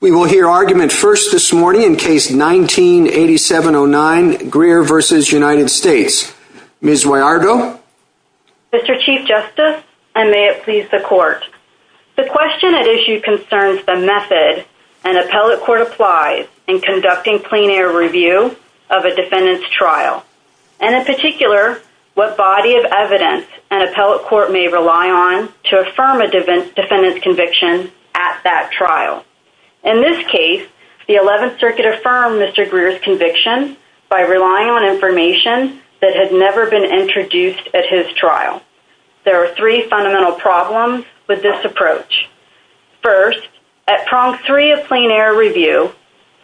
We will hear argument first this morning in case 19-8709, Greer v. United States. Ms. Wayardo? Mr. Chief Justice, and may it please the Court. The question at issue concerns the method an appellate court applies in conducting plein air review of a defendant's trial, and in particular, what body of evidence an appellate court may rely on to affirm a defendant's conviction at that trial. In this case, the Eleventh Circuit affirmed Mr. Greer's conviction by relying on information that had never been introduced at his trial. There are three fundamental problems with this approach. First, at prong three of plain air review,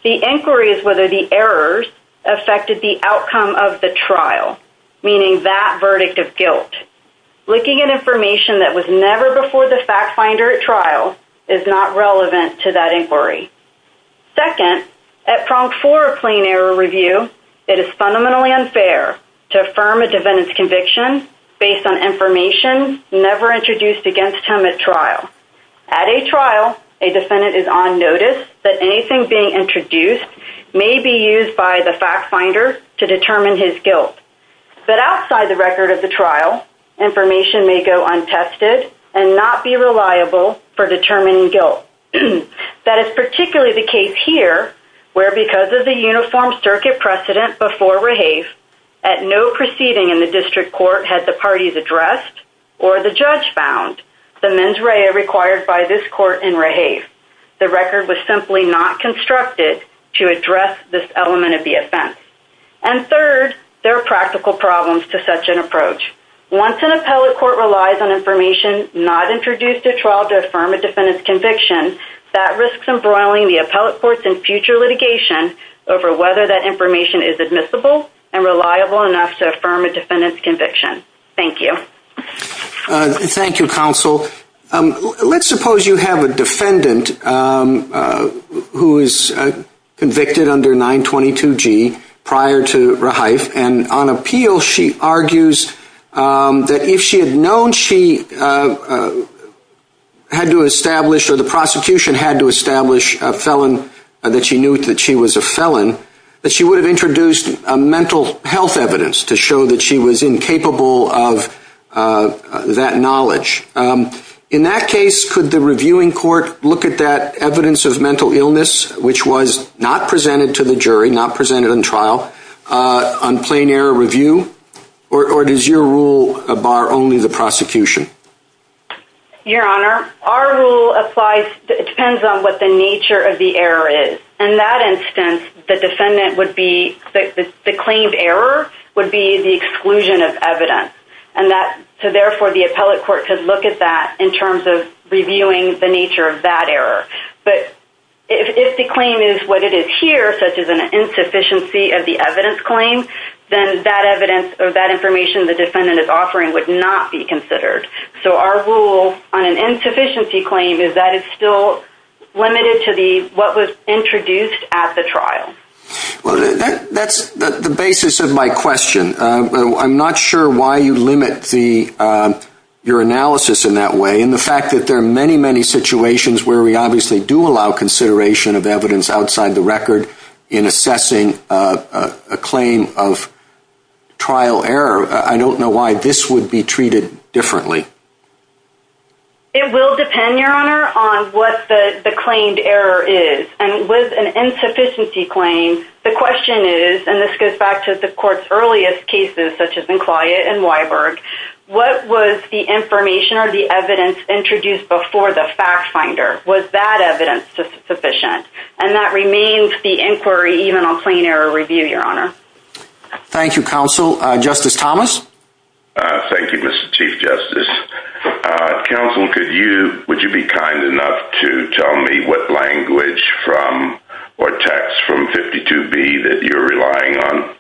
the inquiry is whether the errors affected the outcome of the trial, meaning that verdict of guilt. Second, looking at information that was never before the fact finder at trial is not relevant to that inquiry. Second, at prong four of plain air review, it is fundamentally unfair to affirm a defendant's conviction based on information never introduced against him at trial. At a trial, a defendant is on notice that anything being introduced may be used by the fact finder to determine his guilt. But outside the record of the trial, information may go untested and not be reliable for determining guilt. That is particularly the case here, where because of the Uniform Circuit precedent before REHAVE, at no proceeding in the district court had the parties addressed or the judge found the mens rea required by this court in REHAVE. The record was simply not constructed to address this element of the offense. And third, there are practical problems to such an approach. Once an appellate court relies on information not introduced at trial to affirm a defendant's conviction, that risks embroiling the appellate courts in future litigation over whether that information is admissible and reliable enough to affirm a defendant's conviction. Thank you. Thank you, counsel. Let's suppose you have a defendant who is convicted under 922G prior to REHAVE, and on appeal she argues that if she had known she had to establish or the prosecution had to establish a felon, that she knew that she was a felon, that she would have introduced a mental health evidence to show that she was incapable of that knowledge. In that case, could the reviewing court look at that evidence of mental illness, which was not presented to the jury, not presented on trial, on plain error review? Or does your rule bar only the prosecution? Your Honor, our rule applies, it depends on what the nature of the error is. In that instance, the defendant would be, the claimed error would be the exclusion of evidence. And that, so therefore the appellate court could look at that in terms of reviewing the nature of that error. But if the claim is what it is here, such as an insufficiency of the evidence claim, then that evidence or that information the defendant is offering would not be considered. So our rule on an insufficiency claim is that it's still limited to the, what was introduced at the trial. Well, that, that's the basis of my question. I'm not sure why you limit the, your analysis in that way. And the fact that there are many, many situations where we obviously do allow consideration of evidence outside the record in assessing a claim of trial error, I don't know why this would be treated differently. It will depend, Your Honor, on what the claimed error is. And with an insufficiency claim, the question is, and this goes back to the court's earliest cases, such as McClyatt and Weiberg, what was the information or the evidence introduced before the fact finder? Was that evidence sufficient? And that remains the inquiry even on plain error review, Your Honor. Thank you, Counsel. Justice Thomas? Thank you, Mr. Chief Justice. Counsel, could you, would you be kind enough to tell me what language from, or text from 52B that you're relying on?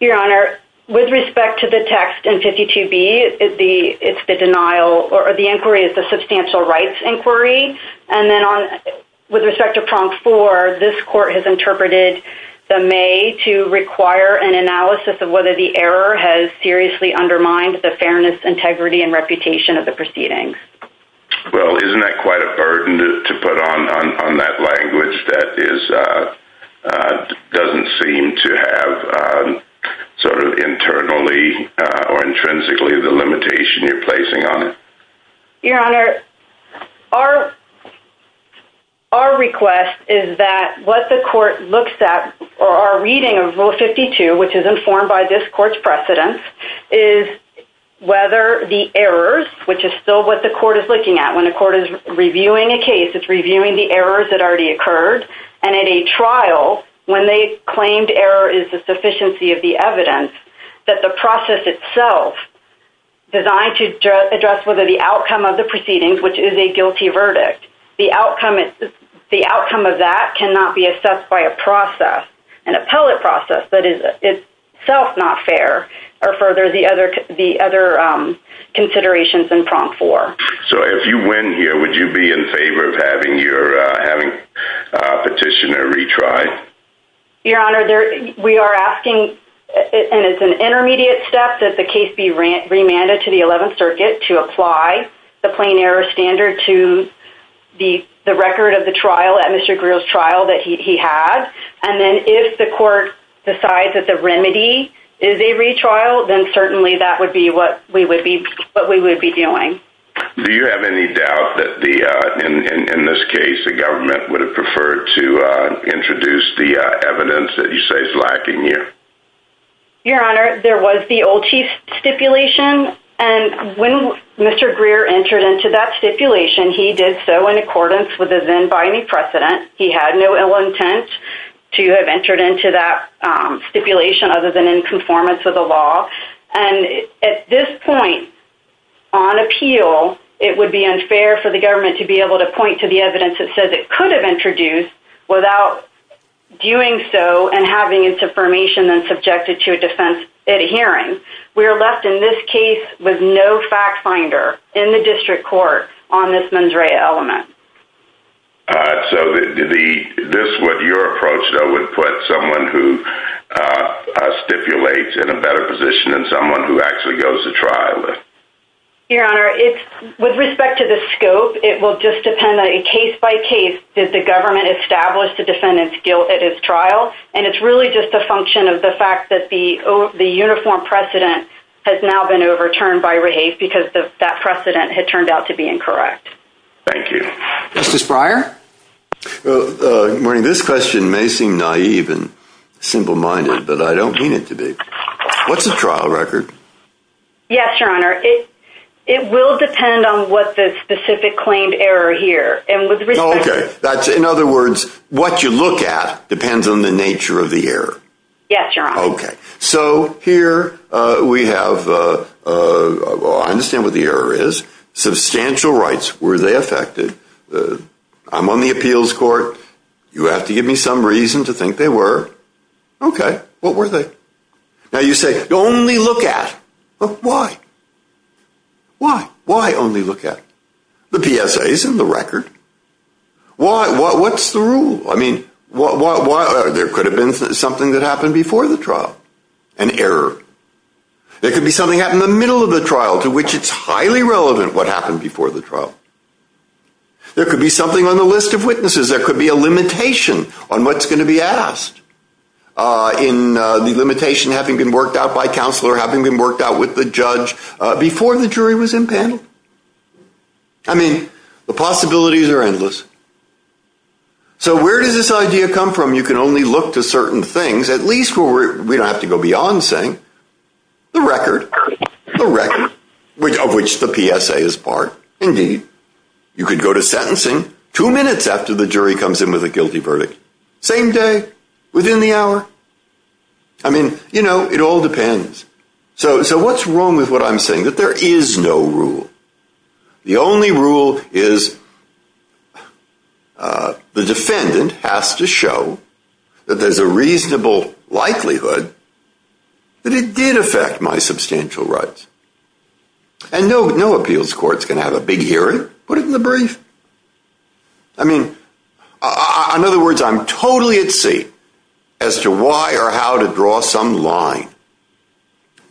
Your Honor, with respect to the text in 52B, it's the denial, or the inquiry is the substantial rights inquiry. And then on, with respect to prompt four, this court has interpreted the may to require an analysis of whether the error has seriously undermined the fairness, integrity, and reputation of the proceedings. Well, isn't that quite a burden to put on, on, on that language that is, doesn't seem to have sort of internally or intrinsically the limitation you're placing on it? Your Honor, our, our request is that what the court looks at, or our reading of Rule 52, which is informed by this court's precedence, is whether the errors, which is still what the court is looking at when the court is reviewing a case, it's reviewing the errors that already occurred. And at a trial, when they claimed error is the sufficiency of the evidence, that the outcome of the proceedings, which is a guilty verdict, the outcome, the outcome of that cannot be assessed by a process, an appellate process, that is itself not fair, or further the other, the other considerations in prompt four. So if you win here, would you be in favor of having your, having a petitioner retry? Your Honor, we are asking, and it's an intermediate step, that the case be remanded to the Eleventh Circuit to apply the plain error standard to the, the record of the trial at Mr. Greer's trial that he, he had, and then if the court decides that the remedy is a retrial, then certainly that would be what we would be, what we would be doing. Do you have any doubt that the, in, in this case, the government would have preferred to introduce the evidence that you say is lacking here? Your Honor, there was the old chief stipulation, and when Mr. Greer entered into that stipulation, he did so in accordance with the then binding precedent. He had no ill intent to have entered into that, um, stipulation other than in conformance with the law, and at this point, on appeal, it would be unfair for the government to be able to point to the evidence that says it could have introduced without doing so and having its information then subjected to a defense at a hearing. We are left, in this case, with no fact finder in the district court on this mens rea element. Uh, so the, the, this, what your approach, though, would put someone who, uh, uh, stipulates in a better position than someone who actually goes to trial with? Your Honor, it's, with respect to the scope, it will just depend on, case by case, did the government establish the defendant's guilt at his trial? And it's really just a function of the fact that the, uh, the uniform precedent has now been overturned by Rahafe because the, that precedent had turned out to be incorrect. Justice Breyer? Uh, uh, this question may seem naive and simple-minded, but I don't mean it to be. What's the trial record? Yes, your Honor, it, it will depend on what the specific claimed error here, and with respect to... Okay. That's, in other words, what you look at depends on the nature of the error. Yes, your Honor. Okay. So, here, uh, we have, uh, uh, well, I understand what the error is. Substantial rights, were they affected? Uh, I'm on the appeals court. You have to give me some reason to think they were. Okay. What were they? Now, you say, only look at. Why? Why? Why only look at? The PSA is in the record. Why? Why? What's the rule? I mean, why, why, why? There could have been something that happened before the trial. An error. There could be something happened in the middle of the trial to which it's highly relevant what happened before the trial. There could be something on the list of witnesses. There could be a limitation on what's going to be asked, uh, in, uh, the limitation having been worked out by counselor, having been worked out with the judge, uh, before the jury was impaneled. I mean, the possibilities are endless. So where does this idea come from? You can only look to certain things, at least where we don't have to go beyond saying, the record, the record, which, of which the PSA is part. Indeed. You could go to sentencing two minutes after the jury comes in with a guilty verdict. Same day, within the hour. I mean, you know, it all depends. So, so what's wrong with what I'm saying that there is no rule. The only rule is, uh, the defendant has to show that there's a reasonable likelihood that it did affect my substantial rights and no, no appeals court's going to have a big hearing. Put it in the brief. I mean, in other words, I'm totally at sea as to why or how to draw some line.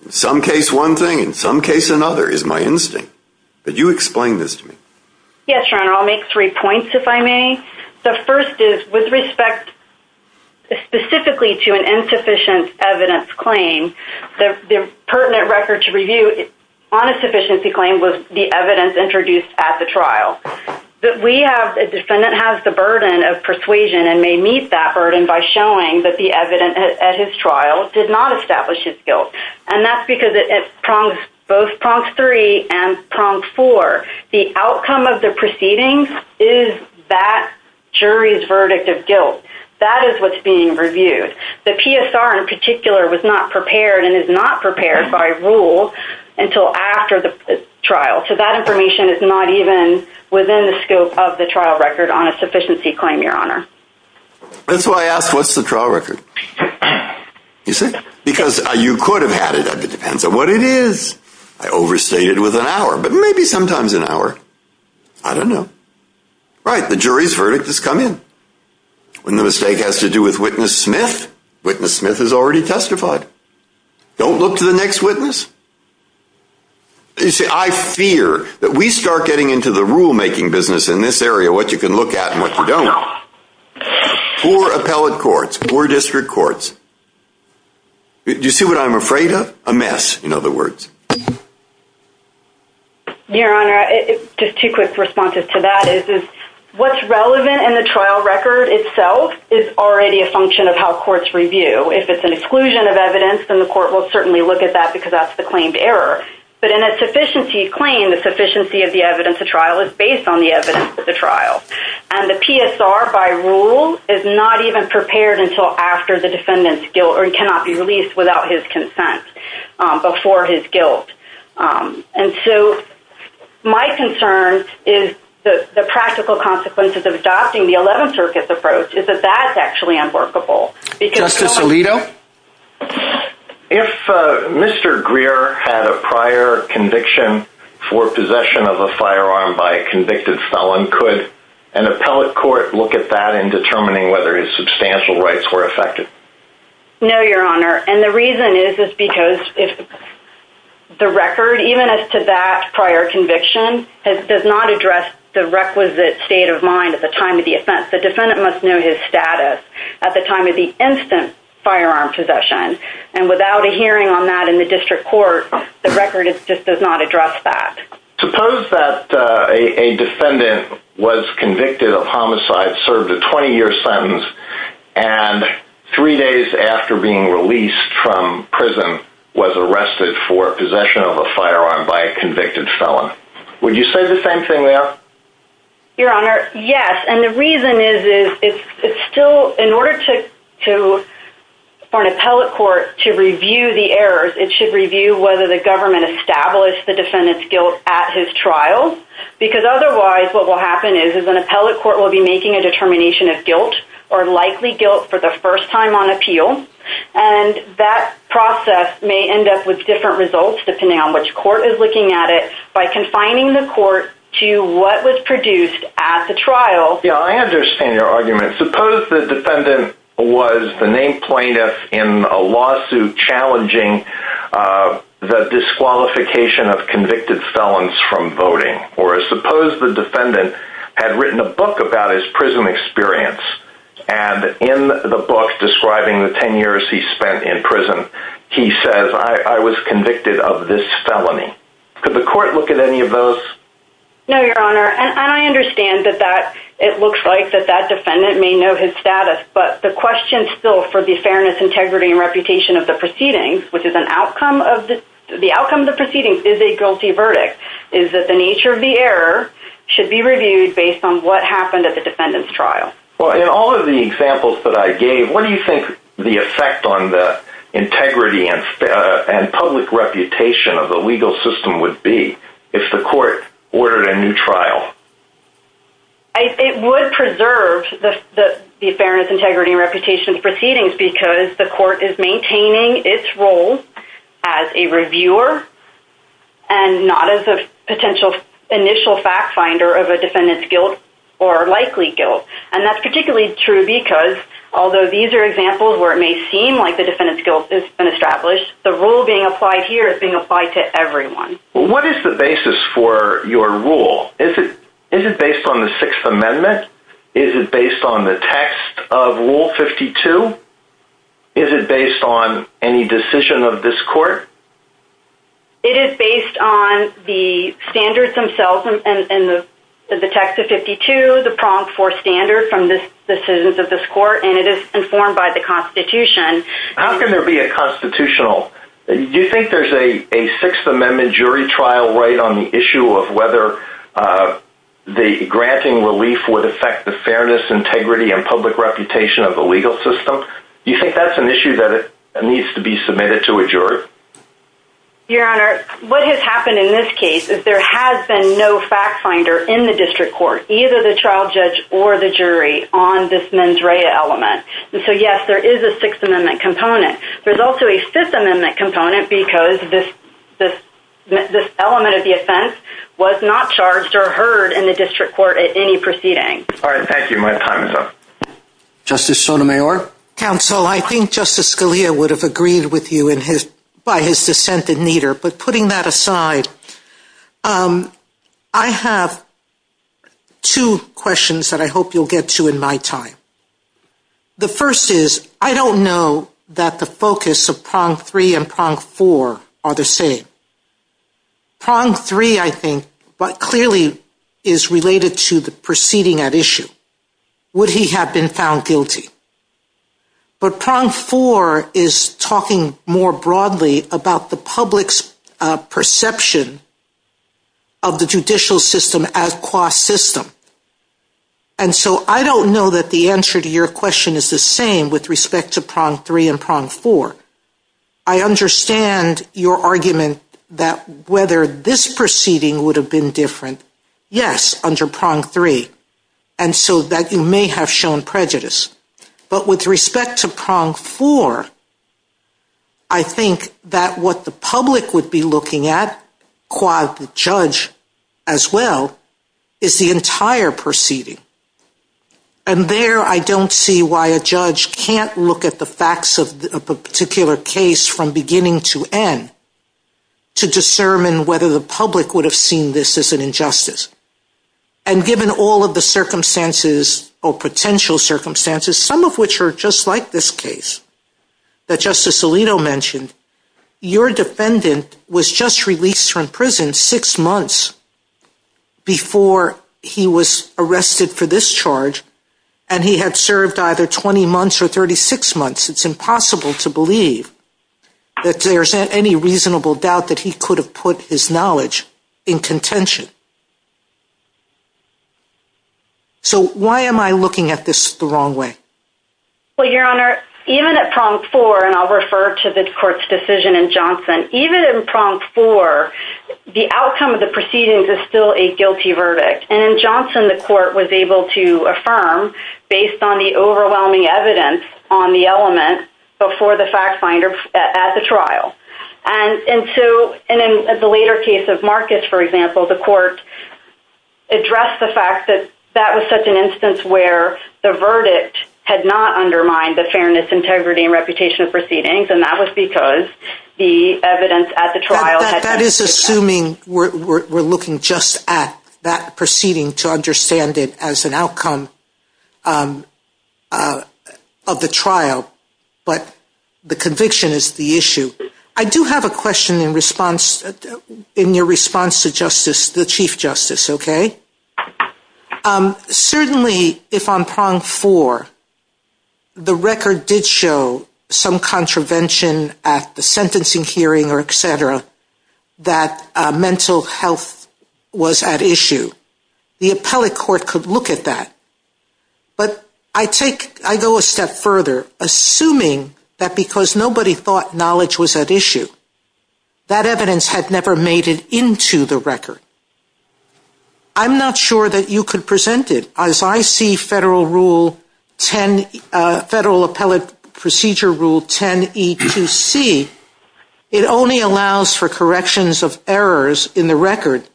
In some case, one thing, in some case, another is my instinct, but you explain this to me. Yes, Your Honor. I'll make three points if I may. The first is with respect specifically to an insufficient evidence claim, the pertinent record to review on a sufficiency claim was the evidence introduced at the trial. That we have, the defendant has the burden of persuasion and may meet that burden by showing that the evidence at his trial did not establish his guilt. And that's because it prongs, both prongs three and prong four. The outcome of the proceedings is that jury's verdict of guilt. That is what's being reviewed. The PSR in particular was not prepared and is not prepared by rule until after the trial. So that information is not even within the scope of the trial record on a sufficiency claim, Your Honor. That's why I asked, what's the trial record? You see? Because you could have had it. It depends on what it is. I overstated with an hour, but maybe sometimes an hour. I don't know. Right. The jury's verdict has come in. When the mistake has to do with witness Smith, witness Smith has already testified. Don't look to the next witness. I fear that we start getting into the rule making business in this area, what you can look at and what you don't. Poor appellate courts, poor district courts. You see what I'm afraid of? A mess, in other words. Your Honor, just two quick responses to that is, is what's relevant in the trial record itself is already a function of how courts review. If it's an exclusion of evidence, then the court will certainly look at that because that's the claimed error. But in a sufficiency claim, the sufficiency of the evidence of trial is based on the evidence of the trial. And the PSR, by rule, is not even prepared until after the defendant's guilt or cannot be released without his consent before his guilt. And so my concern is that the practical consequences of adopting the 11th Circuit's approach is that that's actually unworkable. Justice Alito? If Mr. Greer had a prior conviction for possession of a firearm by a convicted felon, could an appellate court look at that in determining whether his substantial rights were affected? No, Your Honor. And the reason is because the record, even as to that prior conviction, does not address the requisite state of mind at the time of the offense. The defendant must know his status at the time of the instant firearm possession. And without a hearing on that in the district court, the record just does not address that. Suppose that a defendant was convicted of homicide, served a 20-year sentence, and three days after being released from prison was arrested for possession of a firearm by a convicted felon. Would you say the same thing there? Your Honor, yes. And the reason is, in order for an appellate court to review the errors, it should review whether the government established the defendant's guilt at his trial. Because otherwise, what will happen is an appellate court will be making a determination of guilt, or likely guilt, for the first time on appeal. And that process may end up with different results, depending on which court is looking at it, by confining the court to what was produced at the trial. Yeah, I understand your argument. Suppose the defendant was the named plaintiff in a lawsuit challenging the disqualification of convicted felons from voting. Or suppose the defendant had written a book about his prison experience, and in the book describing the 10 years he spent in prison, he says, I was convicted of this felony. Could the court look at any of those? No, Your Honor. And I understand that it looks like that that defendant may know his status, but the question still for the fairness, integrity, and reputation of the proceedings, which is an outcome of the proceedings, is a guilty verdict, is that the nature of the error should be reviewed based on what happened at the defendant's trial. Well, in all of the examples that I gave, what do you think the effect on the integrity and public reputation of the legal system would be if the court ordered a new trial? It would preserve the fairness, integrity, and reputation of the proceedings because the court is maintaining its role as a reviewer and not as a potential initial fact finder of a defendant's guilt or likely guilt. And that's particularly true because, although these are examples where it may seem like the defendant's guilt has been established, the rule being applied here is being applied to everyone. What is the basis for your rule? Is it based on the Sixth Amendment? Is it based on the text of Rule 52? Is it based on any decision of this court? It is based on the standards themselves and the text of 52, the prompt for standard from the decisions of this court, and it is informed by the Constitution. How can there be a constitutional? Do you think there's a Sixth Amendment jury trial right on the issue of whether the granting relief would affect the fairness, integrity, and public reputation of the legal system? Do you think that's an issue that needs to be submitted to a jury? Your Honor, what has happened in this case is there has been no fact finder in the district court, either the trial judge or the jury, on this mens rea element. And so, yes, there is a Sixth Amendment component. There's also a Fifth Amendment component because this element of the offense was not charged or heard in the district court at any proceeding. All right. Thank you. My time is up. Justice Sotomayor. Counsel, I think Justice Scalia would have agreed with you by his dissent in neither. But putting that aside, I have two questions that I hope you'll get to in my time. The first is, I don't know that the focus of prong three and prong four are the same. Prong three, I think, but clearly is related to the proceeding at issue. Would he have been found guilty? But prong four is talking more broadly about the public's perception of the judicial system as qua system. And so I don't know that the answer to your question is the same with respect to prong three and prong four. I understand your argument that whether this proceeding would have been different. Yes, under prong three. And so that you may have shown prejudice. But with respect to prong four, I think that what the public would be looking at, qua the judge as well, is the entire proceeding. And there I don't see why a judge can't look at the facts of a particular case from beginning to end to discern whether the public would have seen this as an injustice. And given all of the circumstances or potential circumstances, some of which are just like this case that Justice Alito mentioned, your defendant was just released from prison six months before he was arrested for this charge. And he had served either 20 months or 36 months. It's impossible to believe that there's any reasonable doubt that he could have put his knowledge in contention. So why am I looking at this the wrong way? Well, Your Honor, even at prong four, and I'll refer to the court's decision in Johnson, even in prong four, the outcome of the proceedings is still a guilty verdict. And in Johnson, the court was able to affirm based on the overwhelming evidence on the element before the fact finder at the trial. And in the later case of Marcus, for example, the court addressed the fact that that was such an instance where the verdict had not undermined the fairness, integrity, and reputation of proceedings. And that was because the evidence at the trial had— That is assuming we're looking just at that proceeding to understand it as an outcome of the trial. But the conviction is the issue. I do have a question in response, in your response to justice, the chief justice, okay? Certainly, if on prong four, the record did show some contravention at the sentencing hearing or et cetera, that mental health was at issue. The appellate court could look at that. But I take, I go a step further, assuming that because nobody thought knowledge was at issue, that evidence had never made it into the record. I'm not sure that you could present it. As I see federal rule 10, federal appellate procedure rule 10E2C, it only allows for corrections of errors in the record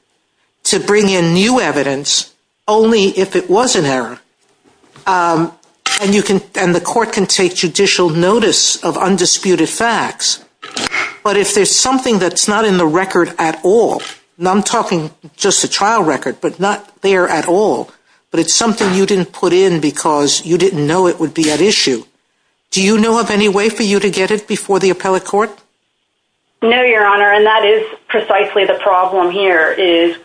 to bring in new evidence only if it was an error. And you can, and the court can take judicial notice of undisputed facts. But if there's something that's not in the record at all, and I'm talking just a trial record, but not there at all, but it's something you didn't put in because you didn't know it would be at issue, do you know of any way for you to get it before the appellate court? No, your honor, and that is precisely the problem here is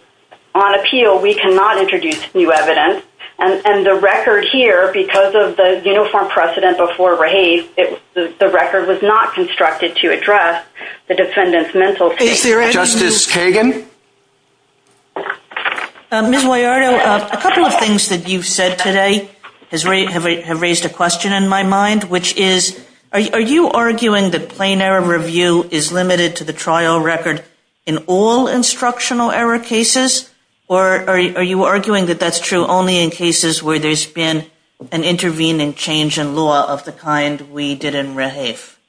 on appeal, we cannot introduce new evidence. And the record here, because of the uniform precedent before Rafe, the record was not constructed to address the defendant's mental state. Is there any- Justice Kagan? Ms. Boyardo, a couple of things that you've said today have raised a question in my mind, which is, are you arguing that plain error review is limited to the trial record in all cases where there's been an intervening change in law of the kind we did in Rafe?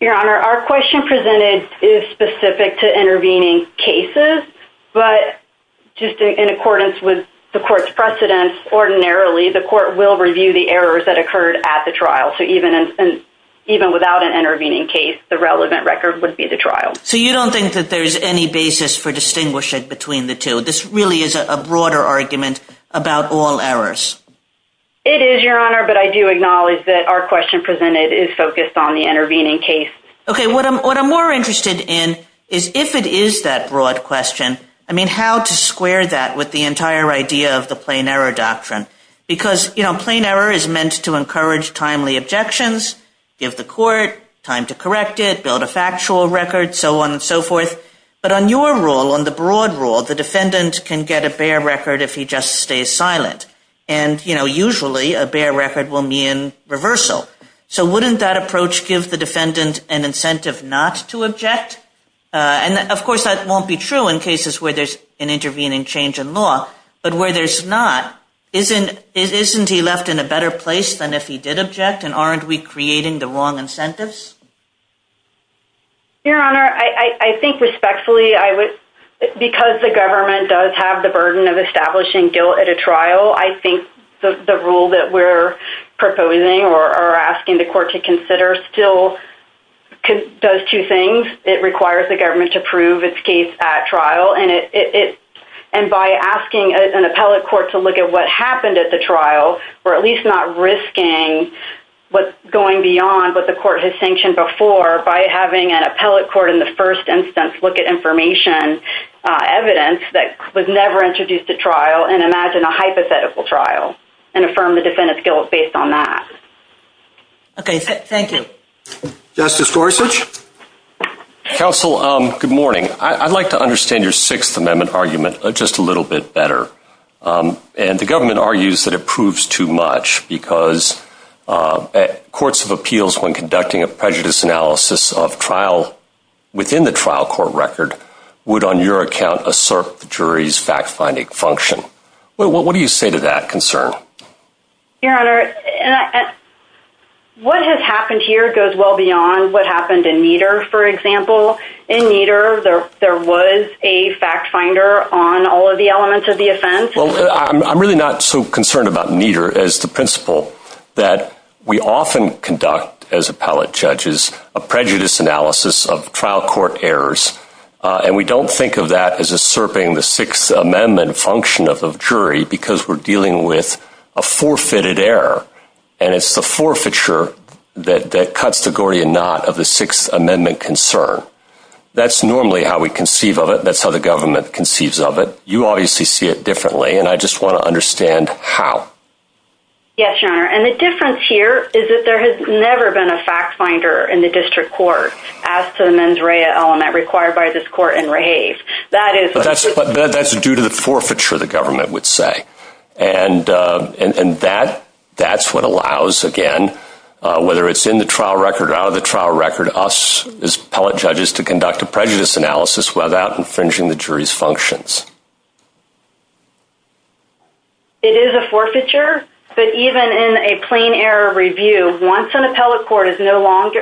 Your honor, our question presented is specific to intervening cases, but just in accordance with the court's precedence, ordinarily, the court will review the errors that occurred at the trial. So even without an intervening case, the relevant record would be the trial. So you don't think that there's any basis for distinguishing between the two? This really is a broader argument about all errors. It is, your honor, but I do acknowledge that our question presented is focused on the intervening case. Okay, what I'm more interested in is if it is that broad question, I mean, how to square that with the entire idea of the plain error doctrine? Because, you know, plain error is meant to encourage timely objections, give the court time to correct it, build a factual record, so on and so forth. But on your rule, on the broad rule, the defendant can get a bare record if he just stays silent. And, you know, usually a bare record will mean reversal. So wouldn't that approach give the defendant an incentive not to object? And of course, that won't be true in cases where there's an intervening change in law, but where there's not, isn't he left in a better place than if he did object? And aren't we creating the wrong incentives? Your honor, I think respectfully, I would, because the government does have the burden of establishing guilt at a trial, I think the rule that we're proposing or asking the court to consider still does two things. It requires the government to prove its case at trial and it, and by asking an appellate court to look at what happened at the trial, or at least not risking what's going beyond what the court has sanctioned before, by having an appellate court in the first instance look at information, evidence that was never introduced at trial and imagine a hypothetical trial and affirm the defendant's guilt based on that. Okay, thank you. Justice Gorsuch. Counsel, good morning. I'd like to understand your Sixth Amendment argument just a little bit better. And the government argues that it proves too much because courts of appeals when conducting a prejudice analysis of trial within the trial court record would, on your account, assert the jury's fact-finding function. What do you say to that concern? Your honor, what has happened here goes well beyond what happened in Nieder, for example. In Nieder, there was a fact-finder on all of the elements of the offense. Well, I'm really not so concerned about Nieder as the principle that we often conduct, as appellate judges, a prejudice analysis of trial court errors. And we don't think of that as usurping the Sixth Amendment function of the jury because we're dealing with a forfeited error. And it's the forfeiture that cuts the Gordian knot of the Sixth Amendment concern. That's normally how we conceive of it. That's how the government conceives of it. You obviously see it differently. And I just want to understand how. Yes, your honor. And the difference here is that there has never been a fact-finder in the district court as to the mens rea element required by this court in Rehave. That's due to the forfeiture, the government would say. And that's what allows, again, whether it's in the trial record or out of the trial record, us as appellate judges to conduct a prejudice analysis without infringing the jury's functions. It is a forfeiture. But even in a plain error review, once an appellate court is no longer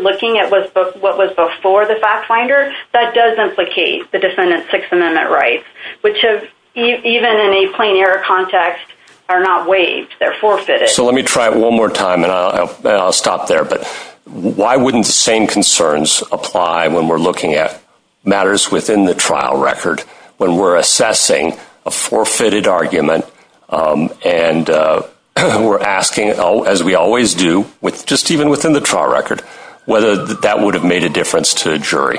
looking at what was before the fact-finder, that does implicate the defendant's Sixth Amendment rights, which even in a plain error context are not waived. They're forfeited. So let me try it one more time. And I'll stop there. Why wouldn't the same concerns apply when we're looking at matters within the trial record when we're assessing a forfeited argument and we're asking, as we always do, with just even within the trial record, whether that would have made a difference to a jury?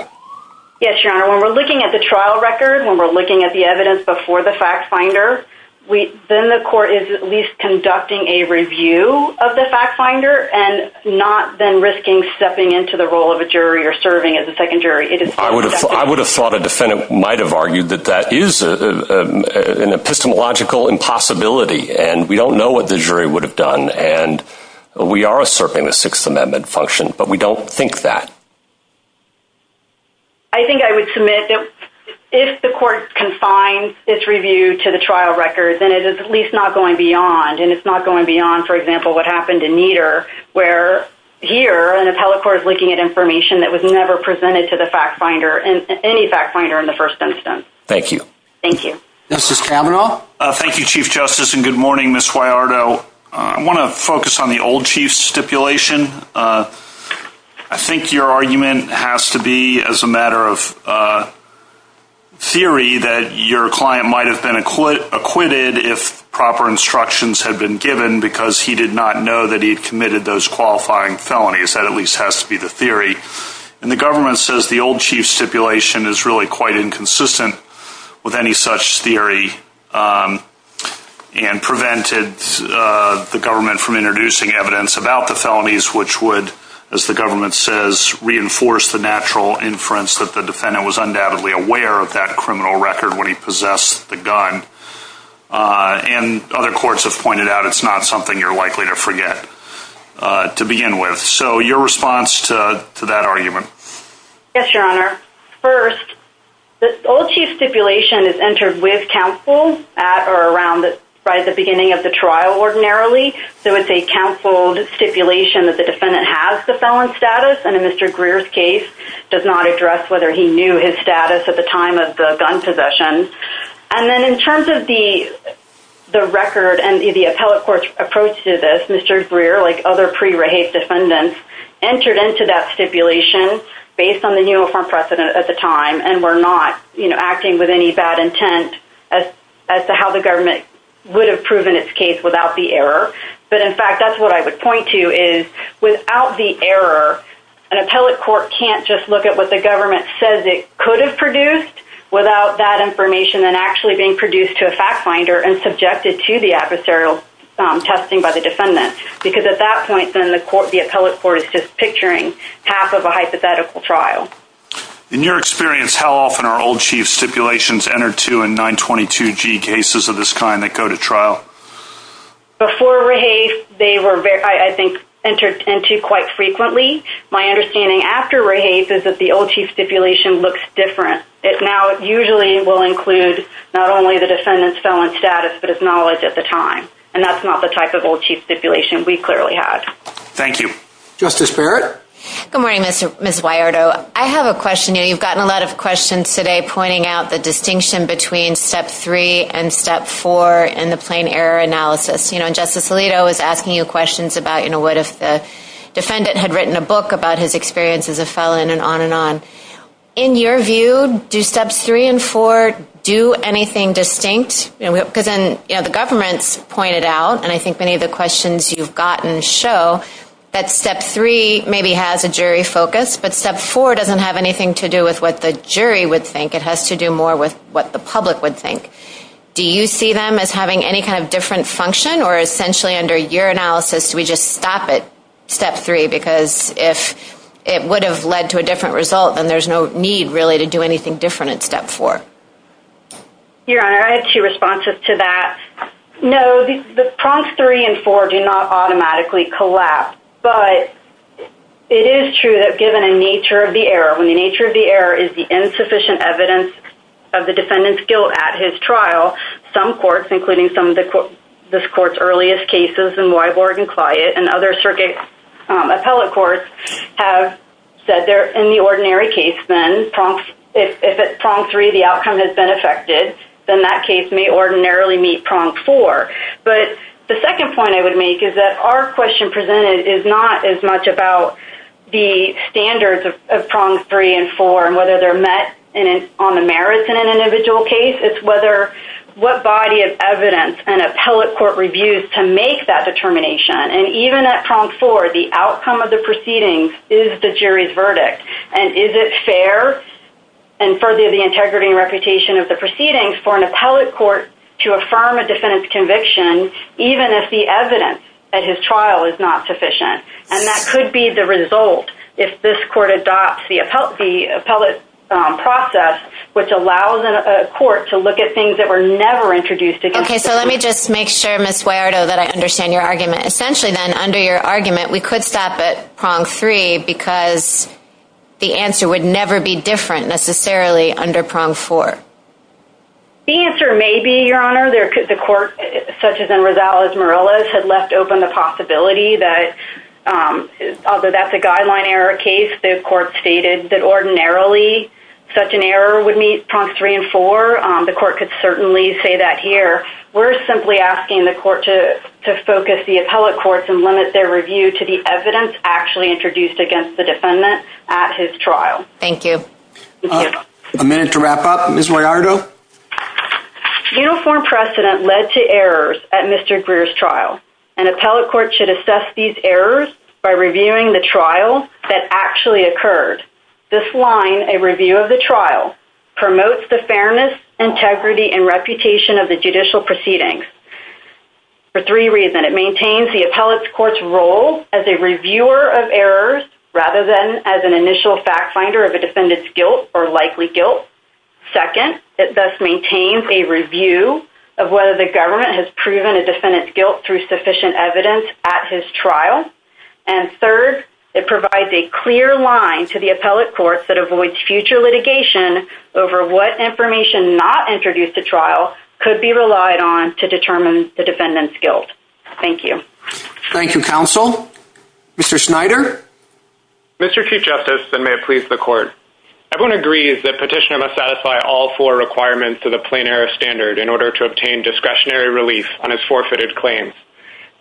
Yes, your honor. When we're looking at the trial record, when we're looking at the evidence before the fact-finder, then the court is at least conducting a review of the fact-finder and not then risking stepping into the role of a jury or serving as a second jury. I would have thought a defendant might have argued that that is an epistemological impossibility. And we don't know what the jury would have done. And we are asserting the Sixth Amendment function, but we don't think that. I think I would submit that if the court confines its review to the trial record, then it is at least not going beyond. And it's not going beyond, for example, what happened in Nieder, where here an appellate court is looking at information that was never presented to the fact-finder and any fact-finder in the first instance. Thank you. Thank you. Justice Kavanaugh? Thank you, Chief Justice. And good morning, Ms. Huallardo. I want to focus on the old chief stipulation. I think your argument has to be as a matter of theory that your client might have been acquitted if proper instructions had been given because he did not know that he had committed those qualifying felonies. That at least has to be the theory. And the government says the old chief stipulation is really quite inconsistent with any such theory and prevented the government from introducing evidence about the felonies which would, as the government says, reinforce the natural inference that the defendant was undoubtedly aware of that criminal record when he possessed the gun. And other courts have pointed out it's not something you're likely to forget to begin with. So your response to that argument? Yes, Your Honor. First, the old chief stipulation is entered with counsel at or around the beginning of the trial ordinarily. So it's a counseled stipulation that the defendant has the felon status. And in Mr. Greer's case, does not address whether he knew his status at the time of the gun possession. And then in terms of the record and the appellate court's approach to this, Mr. Greer, like other pre-rape defendants, entered into that stipulation based on the new informed precedent at the time and were not acting with any bad intent as to how the government would have proven its case without the error. In fact, that's what I would point to is, without the error, an appellate court can't just look at what the government says it could have produced without that information then actually being produced to a fact finder and subjected to the adversarial testing by the defendant. Because at that point, then the appellate court is just picturing half of a hypothetical trial. In your experience, how often are old chief stipulations entered to in 922G cases of this kind that go to trial? Before rehafe, they were, I think, entered into quite frequently. My understanding after rehafe is that the old chief stipulation looks different. It now usually will include not only the defendant's felon status, but his knowledge at the time. And that's not the type of old chief stipulation we clearly had. Thank you. Justice Barrett? Good morning, Mr. — Ms. Wyardo. I have a question. You've gotten a lot of questions today pointing out the distinction between Step 3 and Step 4 in the plain error analysis. You know, Justice Alito was asking you questions about, you know, what if the defendant had written a book about his experience as a felon and on and on. In your view, do Steps 3 and 4 do anything distinct? Because then, you know, the government's pointed out, and I think many of the questions you've gotten show, that Step 3 maybe has a jury focus, but Step 4 doesn't have anything to do with what the jury would think. It has to do more with what the public would think. Do you see them as having any kind of different function? Or essentially under your analysis, do we just stop at Step 3? Because if it would have led to a different result, then there's no need really to do anything different in Step 4. Your Honor, I had two responses to that. No, the prompts 3 and 4 do not automatically collapse. But it is true that given a nature of the error, when the nature of the error is the insufficient evidence of the defendant's guilt at his trial, some courts, including some of this court's earliest cases in Wyborg and Clyett and other circuit appellate courts, have said they're in the ordinary case then. If at prompt 3 the outcome has been affected, then that case may ordinarily meet prompt 4. But the second point I would make is that our question presented is not as much about the standards of prompts 3 and 4 and whether they're met on the merits in an individual case. It's what body of evidence an appellate court reviews to make that determination. And even at prompt 4, the outcome of the proceedings is the jury's verdict. And is it fair and for the integrity and reputation of the proceedings even if the evidence at his trial is not sufficient? And that could be the result if this court adopts the appellate process, which allows a court to look at things that were never introduced. Okay, so let me just make sure, Ms. Wayardo, that I understand your argument. Essentially then, under your argument, we could stop at prompt 3 because the answer would never be different necessarily under prompt 4. The answer may be, Your Honor, the court, such as in Rosales-Morales, had left open the possibility that, although that's a guideline error case, the court stated that ordinarily such an error would meet prompts 3 and 4. The court could certainly say that here. We're simply asking the court to focus the appellate courts and limit their review to the evidence actually introduced against the defendant at his trial. Thank you. A minute to wrap up. Ms. Wayardo? Uniform precedent led to errors at Mr. Greer's trial. An appellate court should assess these errors by reviewing the trial that actually occurred. This line, a review of the trial, promotes the fairness, integrity, and reputation of the judicial proceedings for three reasons. It maintains the appellate court's role as a reviewer of errors rather than as an initial fact finder of a defendant's guilt or likely guilt. Second, it thus maintains a review of whether the government has proven a defendant's guilt through sufficient evidence at his trial. And third, it provides a clear line to the appellate courts that avoids future litigation over what information not introduced to trial could be relied on to determine the defendant's guilt. Thank you. Thank you, counsel. Mr. Schneider? Mr. Chief Justice, and may it please the court. Everyone agrees that Petitioner must satisfy all four requirements of the plain error standard in order to obtain discretionary relief on his forfeited claims.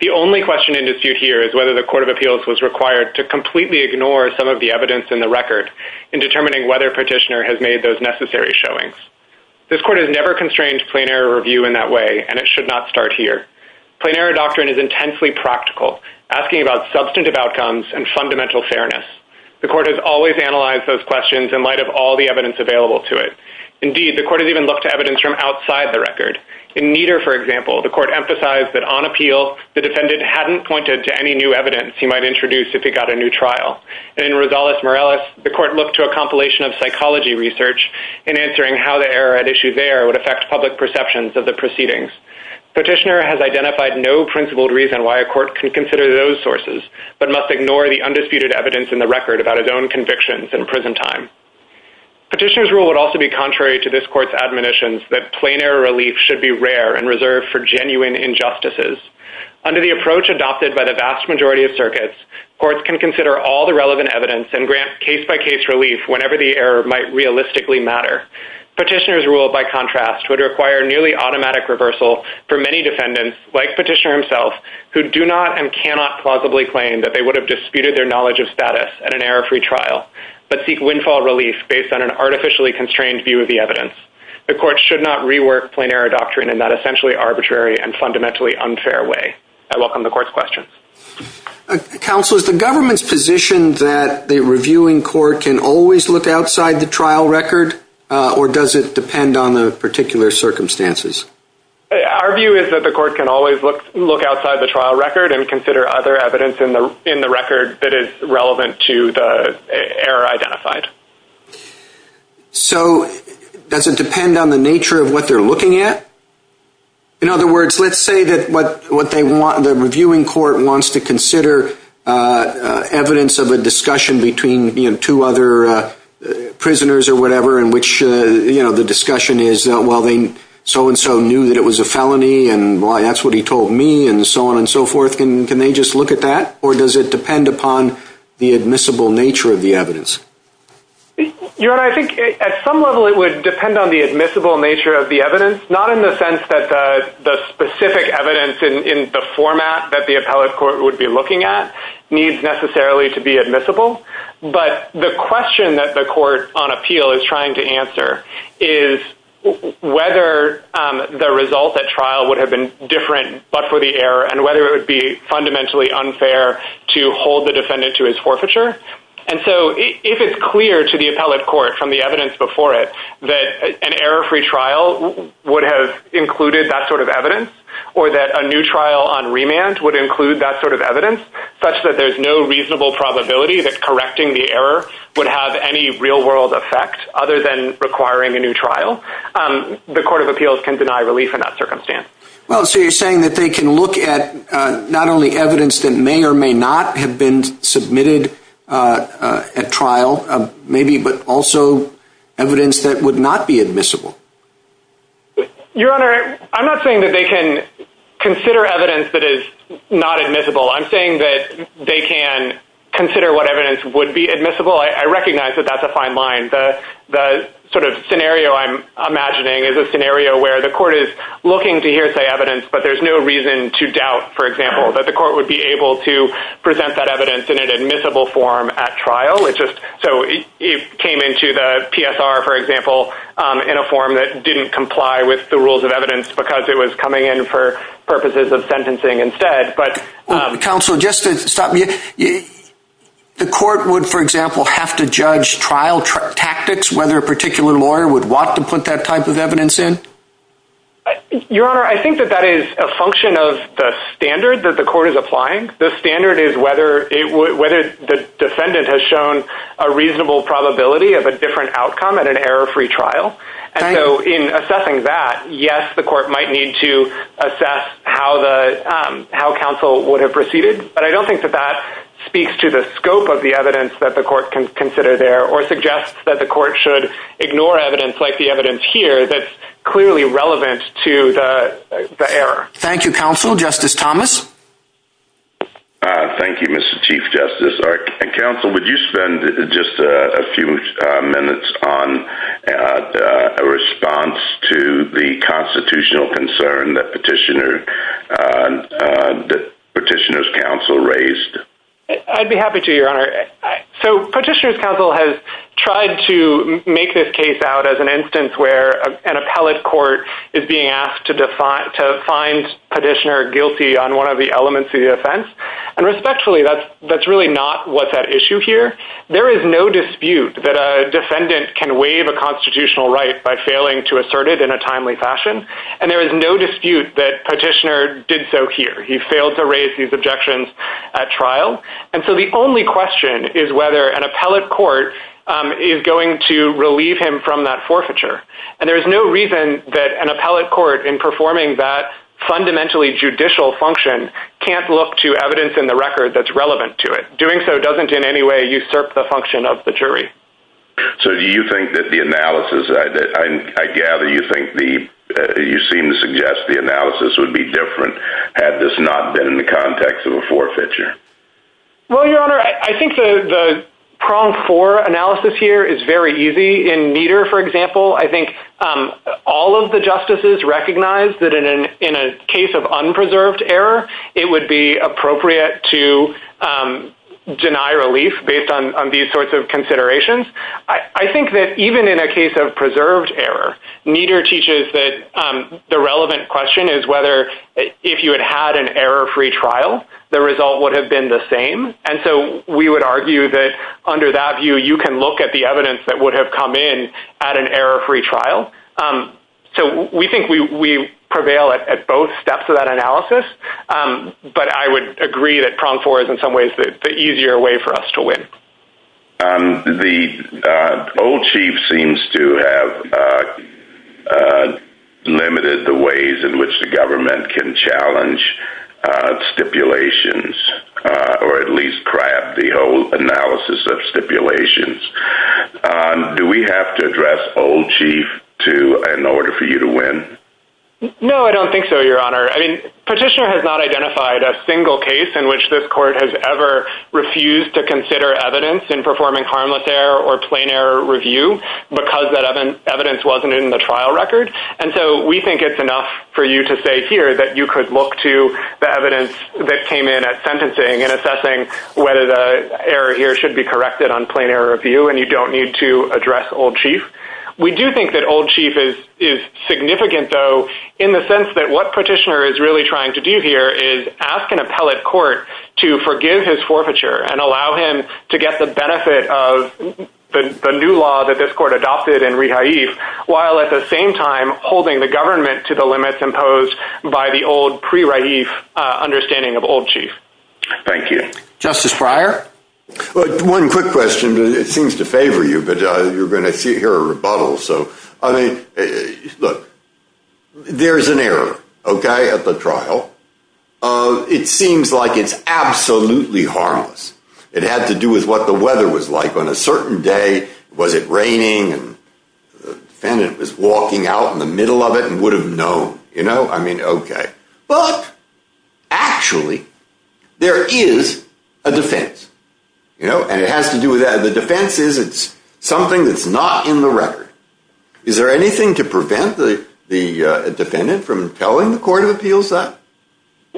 The only question in dispute here is whether the Court of Appeals was required to completely ignore some of the evidence in the record in determining whether Petitioner has made those necessary showings. This court has never constrained plain error review in that way, and it should not start here. Plain error doctrine is intensely practical, asking about substantive outcomes and fundamental fairness. The court has always analyzed those questions in light of all the evidence available to it. Indeed, the court has even looked to evidence from outside the record. In Nieder, for example, the court emphasized that on appeal, the defendant hadn't pointed to any new evidence he might introduce if he got a new trial. And in Rosales-Morales, the court looked to a compilation of psychology research in answering how the error at issue there would affect public perceptions of the proceedings. Petitioner has identified no principled reason why a court can consider those sources, but must ignore the undisputed evidence in the record about his own convictions in prison time. Petitioner's rule would also be contrary to this court's admonitions that plain error relief should be rare and reserved for genuine injustices. Under the approach adopted by the vast majority of circuits, courts can consider all the relevant evidence and grant case-by-case relief whenever the error might realistically matter. Petitioner's rule, by contrast, would require nearly automatic reversal for many defendants, like Petitioner himself, who do not and cannot plausibly claim that they would have disputed their knowledge of status at an error-free trial, but seek windfall relief based on an artificially constrained view of the evidence. The court should not rework plain error doctrine in that essentially arbitrary and fundamentally unfair way. I welcome the court's questions. Counselors, the government's position that the reviewing court can always look outside the trial record, or does it depend on the particular circumstances? Our view is that the court can always look outside the trial record and consider other evidence in the record that is relevant to the error identified. So does it depend on the nature of what they're looking at? In other words, let's say that the reviewing court wants to consider evidence of a discussion between two other prisoners or whatever in which the discussion is, well, they so-and-so knew that it was a felony, and that's what he told me, and so on and so forth. Can they just look at that? Or does it depend upon the admissible nature of the evidence? Your Honor, I think at some level it would depend on the admissible nature of the evidence. Not in the sense that the specific evidence in the format that the appellate court would be looking at needs necessarily to be admissible, but the question that the court on appeal is trying to answer is whether the result at trial would have been different but for the error and whether it would be fundamentally unfair to hold the defendant to his forfeiture. And so if it's clear to the appellate court from the evidence before it that an error-free trial would have included that sort of evidence or that a new trial on remand would include that sort of evidence such that there's no reasonable probability that correcting the error would have any real-world effect other than requiring a new trial, the court of appeals can deny relief in that circumstance. Well, so you're saying that they can look at not only evidence that may or may not have been submitted at trial, maybe, but also evidence that would not be admissible. Your Honor, I'm not saying that they can consider evidence that is not admissible. I'm saying that they can consider what evidence would be admissible. I recognize that that's a fine line. The sort of scenario I'm imagining is a scenario where the court is looking to hear say evidence, but there's no reason to doubt, for example, that the court would be able to present that evidence in an admissible form at trial. So it came into the PSR, for example, in a form that didn't comply with the rules of evidence because it was coming in for purposes of sentencing instead. Counsel, just to stop you, the court would, for example, have to judge trial tactics whether a particular lawyer would want to put that type of evidence in? Your Honor, I think that that is a function of the standard that the court is applying. The standard is whether the defendant has shown a reasonable probability of a different outcome at an error-free trial. And so in assessing that, yes, the court might need to assess how counsel would have proceeded, but I don't think that that speaks to the scope of the evidence that the court can consider there or suggests that the court should ignore evidence like the evidence here that's clearly relevant to the error. Thank you, Counsel. Justice Thomas? Thank you, Mr. Chief Justice. Counsel, would you spend just a few minutes on a response to the constitutional concern that Petitioner's Counsel raised? I'd be happy to, Your Honor. So Petitioner's Counsel has tried to make this case out as an instance where an appellate court is being asked to find Petitioner guilty on one of the elements of the offense. And respectfully, that's really not what's at issue here. There is no dispute that a defendant can waive a constitutional right by failing to assert it in a timely fashion. And there is no dispute that Petitioner did so here. He failed to raise these objections at trial. And so the only question is whether an appellate court is going to relieve him from that forfeiture. And there is no reason that an appellate court, in performing that fundamentally judicial function, can't look to evidence in the record that's relevant to it. Doing so doesn't in any way usurp the function of the jury. So do you think that the analysis... I gather you seem to suggest the analysis would be different had this not been in the context of a forfeiture. Well, Your Honor, I think the prong for analysis here is very easy. In Meador, for example, I think all of the justices recognize that in a case of unpreserved error, it would be appropriate to deny relief based on these sorts of considerations. I think that even in a case of preserved error, Meador teaches that the relevant question is whether, if you had had an error-free trial, the result would have been the same. And so we would argue that under that view, you can look at the evidence that would have come in at an error-free trial. So we think we prevail at both steps of that analysis. But I would agree that prong for is in some ways the easier way for us to win. The old chief seems to have limited the ways in which the government can challenge stipulations, or at least grab the whole analysis of stipulations. Do we have to address old chief in order for you to win? No, I don't think so, Your Honor. I mean, Petitioner has not identified a single case in which this court has ever refused to consider evidence in performing harmless error or plain error review because that evidence wasn't in the trial record. And so we think it's enough for you to say here that you could look to the evidence that came in at sentencing and assessing whether the error here should be corrected on plain error review, and you don't need to address old chief. We do think that old chief is significant though, in the sense that what Petitioner is really trying to do here is ask an appellate court to forgive his forfeiture and allow him to get the benefit of the new law that this court adopted in Rehaif, while at the same time holding the government to the limits imposed by the old pre-Rehaif understanding of old chief. Thank you. Justice Breyer? One quick question. It seems to favor you, but you're going to hear a rebuttal. So, I mean, look, there's an error, okay, at the trial. It seems like it's absolutely harmless. It had to do with what the weather was like. On a certain day, was it raining? And the defendant was walking out in the middle of it and would have known, you know? I mean, okay. But actually, there is a defense, you know? And it has to do with that. The defense is it's something that's not in the record. Is there anything to prevent the defendant from telling the court of appeals that?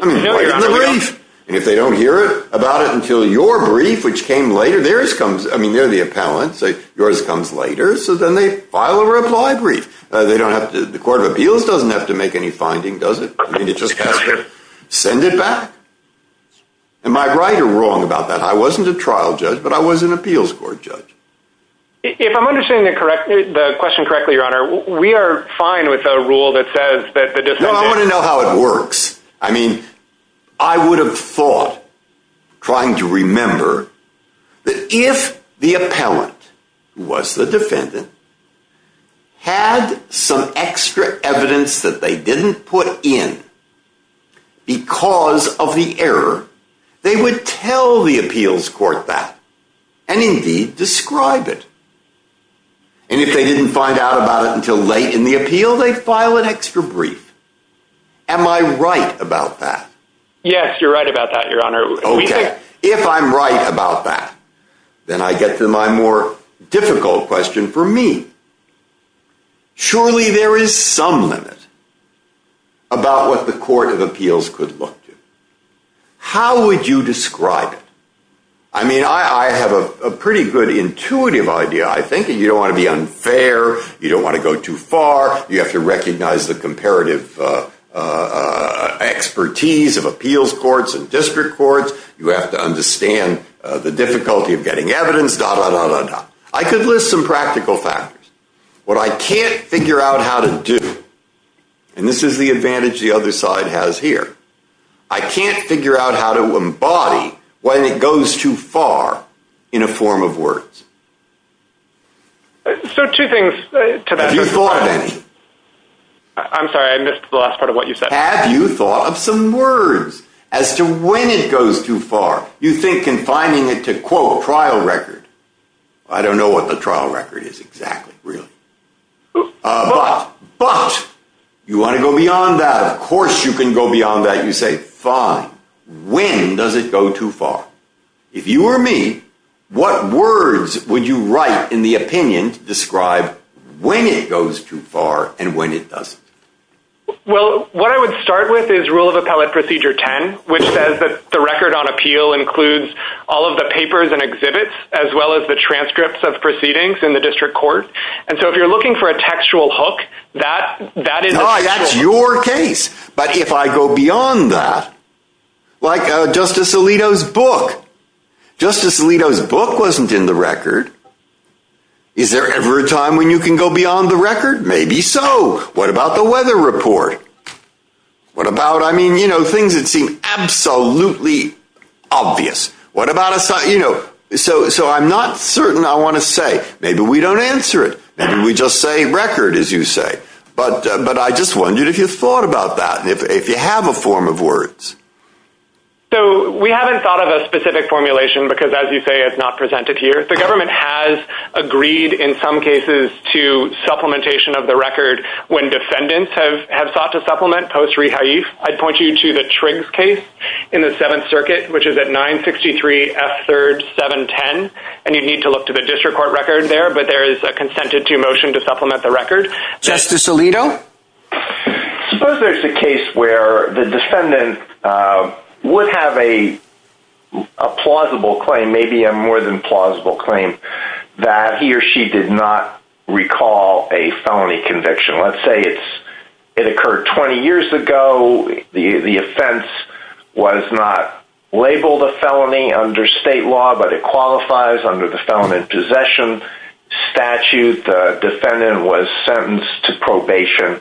I mean, why give them the brief? And if they don't hear about it until your brief, which came later, theirs comes, I mean, they're the appellant. So yours comes later. So then they file a reply brief. They don't have to, the court of appeals doesn't have to make any finding, does it? I mean, it just has to send it back. Am I right or wrong about that? I wasn't a trial judge, but I was an appeals court judge. If I'm understanding the question correctly, Your Honor, we are fine with a rule that says that the defendant- I mean, I would have thought trying to remember that if the appellant, who was the defendant, had some extra evidence that they didn't put in because of the error, they would tell the appeals court that and indeed describe it. And if they didn't find out about it until late in the appeal, they file an extra brief. Am I right about that? Yes, you're right about that, Your Honor. Okay. If I'm right about that, then I get to my more difficult question for me. Surely there is some limit about what the court of appeals could look to. How would you describe it? I mean, I have a pretty good intuitive idea. I think you don't want to be unfair. You don't want to go too far. You have to recognize the comparative expertise of appeals courts and district courts. You have to understand the difficulty of getting evidence, da, da, da, da, da. I could list some practical factors. What I can't figure out how to do, and this is the advantage the other side has here, I can't figure out how to embody when it goes too far in a form of words. So two things. Have you thought of any? I'm sorry, I missed the last part of what you said. Have you thought of some words as to when it goes too far? You think confining it to, quote, trial record. I don't know what the trial record is exactly, really. But, but you want to go beyond that. Of course you can go beyond that. You say, fine, when does it go too far? If you were me, what words would you write in the opinion to describe when it goes too far and when it doesn't? Well, what I would start with is Rule of Appellate Procedure 10, which says that the record on appeal includes all of the papers and exhibits, as well as the transcripts of proceedings in the district court. And so if you're looking for a textual hook, that, that is- No, that's your case. But if I go beyond that, like Justice Alito's book. Justice Alito's book wasn't in the record. Is there ever a time when you can go beyond the record? Maybe so. What about the weather report? What about, I mean, you know, things that seem absolutely obvious. What about a, you know, so, so I'm not certain I want to say, maybe we don't answer it. Maybe we just say record, as you say. But, but I just wondered if you thought about that and if you have a form of words. So we haven't thought of a specific formulation because as you say, it's not presented here. The government has agreed in some cases to supplementation of the record when defendants have sought to supplement post-rehaif. I'd point you to the Triggs case in the Seventh Circuit, which is at 963 F3rd 710. And you'd need to look to the district court record there, but there is a consented to motion to supplement the record. Justice Alito? Suppose there's a case where the defendant would have a plausible claim, maybe a more than plausible claim, that he or she did not recall a felony conviction. Let's say it's, it occurred 20 years ago. The offense was not labeled a felony under state law, but it qualifies under the Felony in Possession Statute. The defendant was sentenced to probation.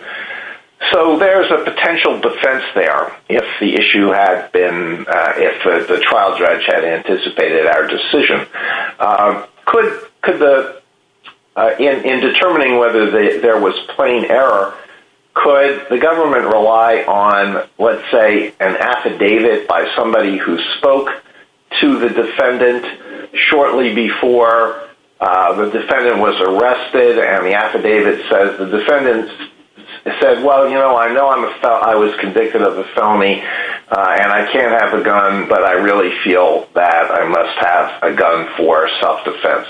So there's a potential defense there if the issue had been, if the trial judge had anticipated our decision. Could the, in determining whether there was plain error, could the government rely on, let's say, an affidavit by somebody who spoke to the defendant shortly before the defendant was arrested and the affidavit says, the defendant said, well, you know, I know I was convicted of a felony and I can't have a gun, but I really feel that I must have a gun for self-defense.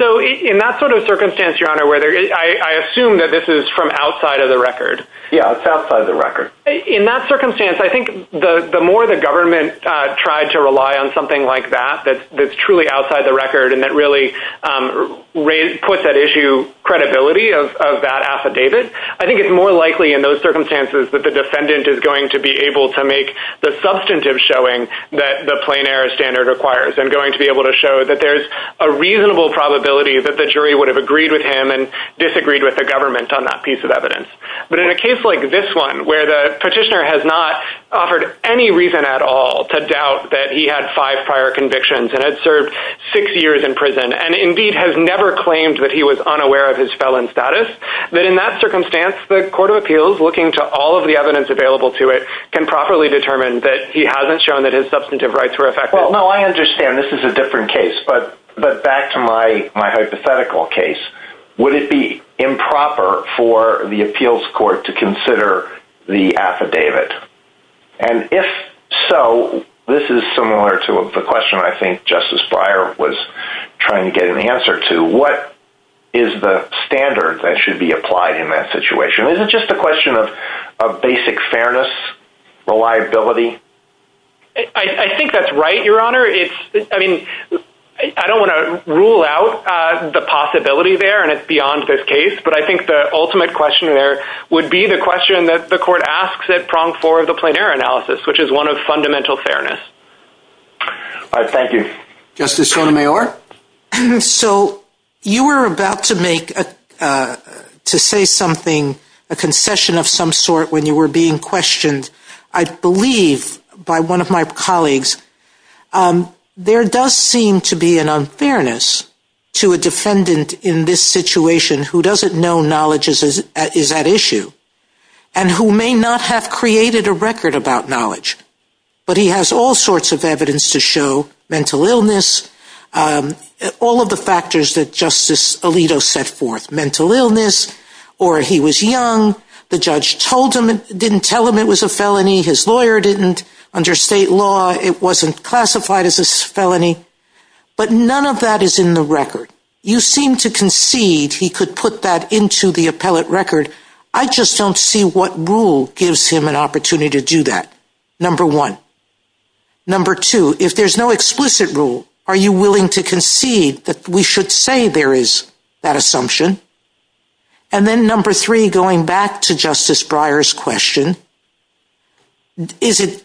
So in that sort of circumstance, Your Honor, where there, I assume that this is from outside of the record. Yeah, it's outside the record. In that circumstance, I think the more the government tried to rely on something like that, that's truly outside the record and that really put that issue credibility of that affidavit, I think it's more likely in those circumstances that the defendant is going to be able to make the substantive showing that the plain error standard requires and going to be able to show that there's a reasonable probability that the jury would have agreed with him and disagreed with the government on that piece of evidence. But in a case like this one, where the petitioner has not offered any reason at all to doubt that he had five prior convictions and had served six years in prison and indeed has never claimed that he was unaware of his felon status, that in that circumstance, the court of appeals, looking to all of the evidence available to it, can properly determine that he hasn't shown that his substantive rights were affected. Well, no, I understand this is a different case, but back to my hypothetical case, would it be improper for the appeals court to consider the affidavit? And if so, this is similar to the question I think Justice Breyer was trying to get an answer to, what is the standard that should be applied in that situation? Is it just a question of basic fairness, reliability? I think that's right, Your Honor. It's, I mean, I don't want to rule out the possibility there and it's beyond this case, but I think the ultimate question there would be the question that the court asks at prong four of the plein air analysis, which is one of fundamental fairness. All right, thank you. Justice Sotomayor. So you were about to make, to say something, a concession of some sort when you were being questioned, I believe by one of my colleagues, there does seem to be an unfairness to a defendant in this situation who doesn't know knowledge is at issue and who may not have created a record about knowledge, but he has all sorts of evidence to show mental illness, all of the factors that Justice Alito set forth, mental illness, or he was young, the judge told him, didn't tell him it was a felony, his lawyer didn't, under state law, it wasn't classified as a felony, but none of that is in the record. You seem to concede he could put that into the appellate record. I just don't see what rule gives him an opportunity to do that, number one. Number two, if there's no explicit rule, are you willing to concede that we should say there is that assumption? And then number three, going back to Justice Breyer's question, is it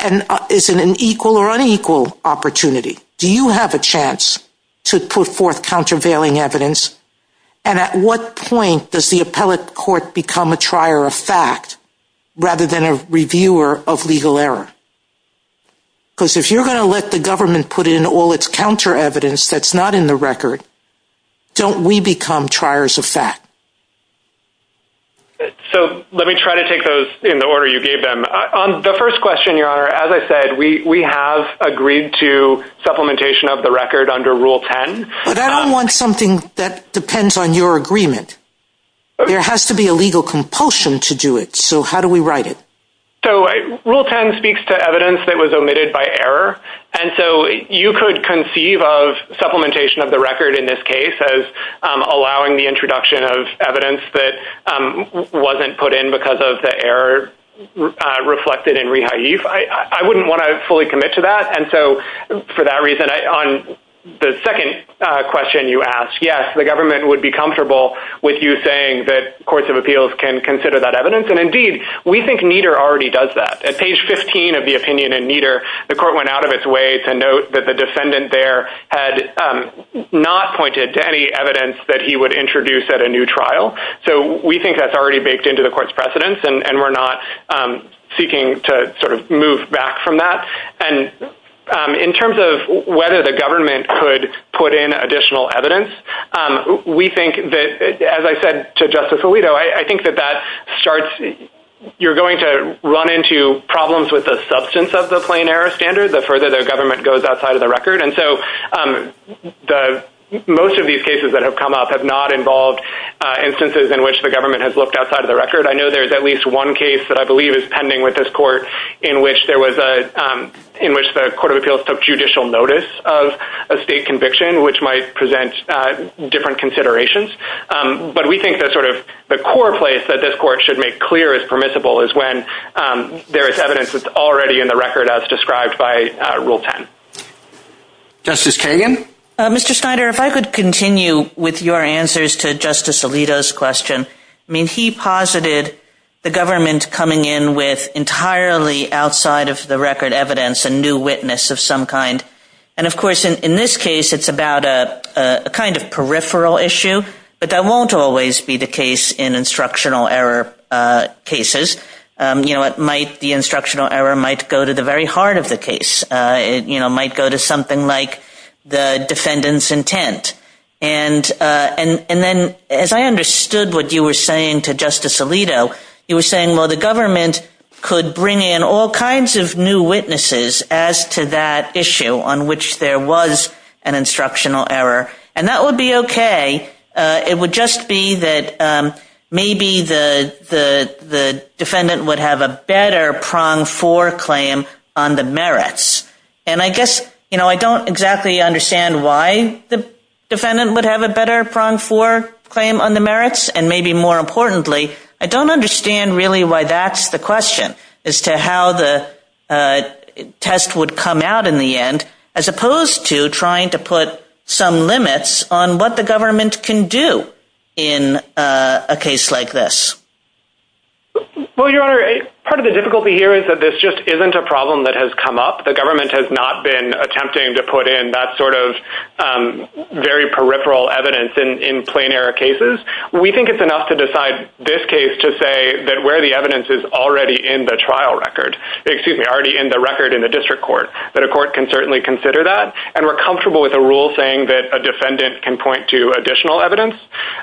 an equal or unequal opportunity? Do you have a chance to put forth countervailing evidence? And at what point does the appellate court become a trier of fact rather than a reviewer of legal error? Because if you're going to let the government put in all its counter evidence that's not in the record, don't we become triers of fact? So let me try to take those in the order you gave them. The first question, Your Honor, as I said, we have agreed to supplementation of the record under Rule 10. But I don't want something that depends on your agreement. There has to be a legal compulsion to do it. So how do we write it? So Rule 10 speaks to evidence that was omitted by error. And so you could conceive of supplementation of the record in this case as allowing the introduction of evidence that wasn't put in because of the error reflected in rehab. I wouldn't want to fully commit to that. And so for that reason, on the second question you asked, yes, the government would be comfortable with you saying that courts of appeals can consider that evidence. And indeed, we think Nieder already does that. At page 15 of the opinion in Nieder, the court went out of its way to note that the defendant there had not pointed to any evidence that he would introduce at a new trial. So we think that's already baked into the court's precedence. And we're not seeking to sort of move back from that. And in terms of whether the government could put in additional evidence, we think that, as I said to Justice Alito, I think that that starts, you're going to run into problems with the substance of the plain error standard the further the government goes outside of the record. And so most of these cases that have come up have not involved instances in which the government has looked outside of the record. I know there's at least one case that I believe is pending with this court in which there was a, in which the court of appeals took judicial notice of a state conviction, which might present different considerations. But we think that sort of the core place that this court should make clear is permissible is when there is evidence that's already in the record as described by Rule 10. Justice Kagan? Mr. Snyder, if I could continue with your answers to Justice Alito's question. I mean, he posited the government coming in with entirely outside of the record evidence a new witness of some kind. And of course, in this case, it's about a kind of peripheral issue. But that won't always be the case in instructional error cases. You know, it might, the instructional error might go to the very heart of the case. It might go to something like the defendant's intent. And then as I understood what you were saying to Justice Alito, you were saying, well, the government could bring in all kinds of new witnesses as to that issue on which there was an instructional error. And that would be okay. It would just be that maybe the defendant would have a better prong for claim on the merits. And I guess, you know, I don't exactly understand why the defendant would have a better prong for claim on the merits. And maybe more importantly, I don't understand really why that's the question as to how the test would come out in the end, as opposed to trying to put some limits on what the government can do in a case like this. Well, Your Honor, part of the difficulty here is that this just isn't a problem that has come up. The government has not been attempting to put in that sort of very peripheral evidence in plain error cases. We think it's enough to decide this case to say that where the evidence is already in the trial record, excuse me, already in the record in the district court, that a court can certainly consider that. And we're comfortable with a rule saying that a defendant can point to additional evidence.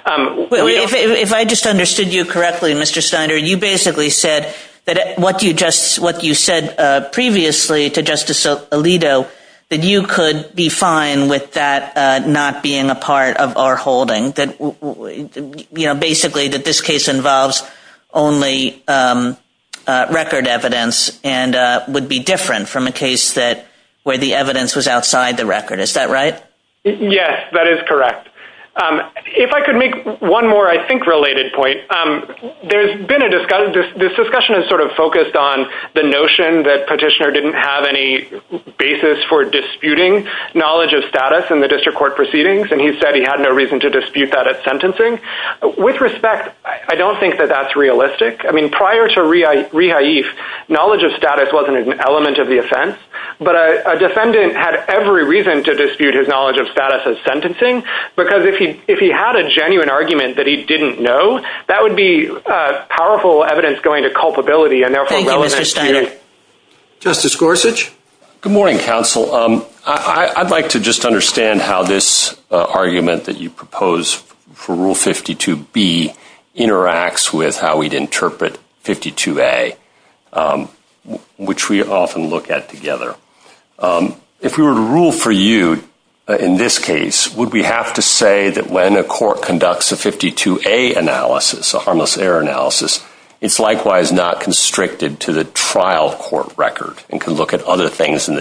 If I just understood you correctly, Mr. Steiner, you basically said that what you just what you said previously to Justice Alito, that you could be fine with that not being a part of our holding that, you know, basically that this case involves only record evidence and would be different from a case where the evidence was outside the record. Is that right? Yes, that is correct. If I could make one more, I think, related point. There's been a discussion. This discussion is sort of focused on the notion that Petitioner didn't have any basis for disputing knowledge of status in the district court proceedings. And he said he had no reason to dispute that at sentencing. With respect, I don't think that that's realistic. I mean, prior to rehaif, knowledge of status wasn't an element of the offense. But a defendant had every reason to dispute his knowledge of status as sentencing. Because if he if he had a genuine argument that he didn't know, that would be powerful evidence going to culpability and therefore. Thank you, Mr. Steiner. Justice Gorsuch. Good morning, counsel. I'd like to just understand how this argument that you propose for Rule 52B interacts with how we'd interpret 52A, which we often look at together. If we were to rule for you in this case, would we have to say that when a court conducts a 52A analysis, a harmless error analysis, it's likewise not constricted to the trial court record and can look at other things in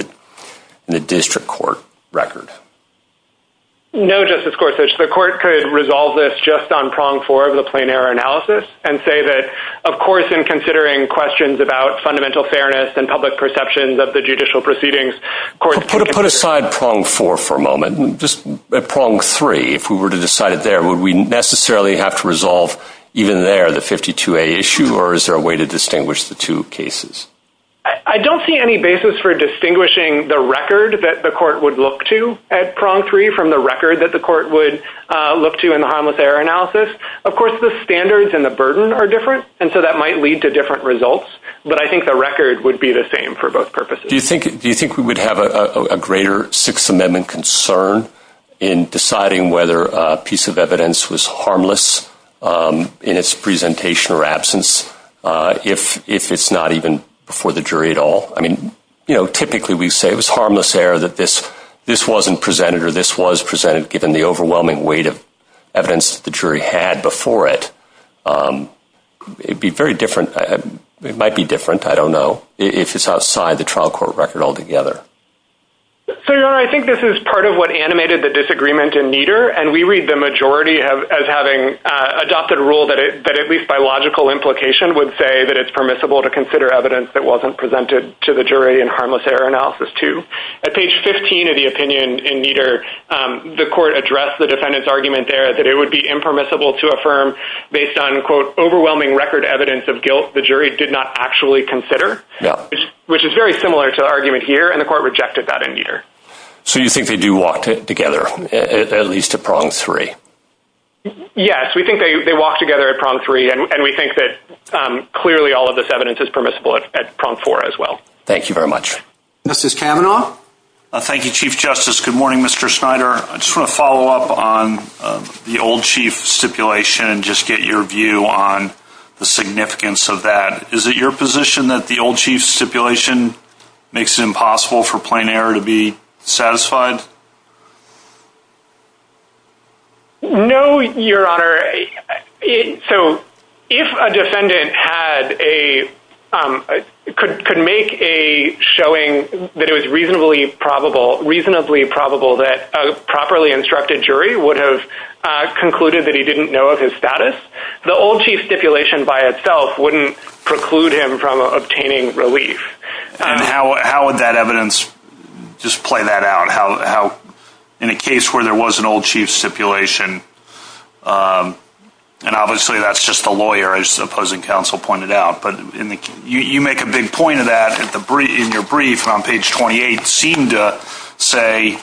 the district court record? No, Justice Gorsuch. The court could resolve this just on prong four of the plain error analysis and say that, of course, in considering questions about fundamental fairness and public perceptions of the judicial proceedings... Put aside prong four for a moment. Just prong three, if we were to decide it there, would we necessarily have to resolve even there the 52A issue or is there a way to distinguish the two cases? I don't see any basis for distinguishing the record that the court would look to at prong three from the record that the court would look to in the harmless error analysis. Of course, the standards and the burden are different and so that might lead to different results. But I think the record would be the same for both purposes. Do you think we would have a greater Sixth Amendment concern in deciding whether a piece of evidence was harmless in its presentation or absence if it's not even before the jury at all? I mean, typically we say it was harmless error that this wasn't presented or this was presented given the overwhelming weight of evidence the jury had before it. It'd be very different. It might be different. I don't know if it's outside the trial court record altogether. So, Your Honor, I think this is part of what animated the disagreement in Nieder and we read the majority as having adopted a rule that at least by logical implication would say that it's permissible to consider evidence that wasn't presented to the jury in harmless error analysis too. At page 15 of the opinion in Nieder, the court addressed the defendant's argument there that it would be impermissible to affirm based on, quote, overwhelming record evidence of guilt the jury did not actually consider, which is very similar to the argument here, and the court rejected that in Nieder. So you think they do walk together at least to prong three? Yes, we think they walk together at prong three and we think that clearly all of this evidence is permissible at prong four as well. Thank you very much. Justice Kavanaugh. Thank you, Chief Justice. Good morning, Mr. Snyder. I just want to follow up on the old chief stipulation and just get your view on the significance of that. Is it your position that the old chief stipulation makes it impossible for plain error to be satisfied? No, Your Honor. So if a defendant had a, could make a showing that it was reasonably probable, reasonably probable that a properly instructed jury would have concluded that he didn't know of his status, the old chief stipulation by itself wouldn't preclude him from obtaining relief. And how would that evidence just play that out? In a case where there was an old chief stipulation, and obviously that's just a lawyer, as the opposing counsel pointed out, but you make a big point of that in your brief on page 28, seemed to say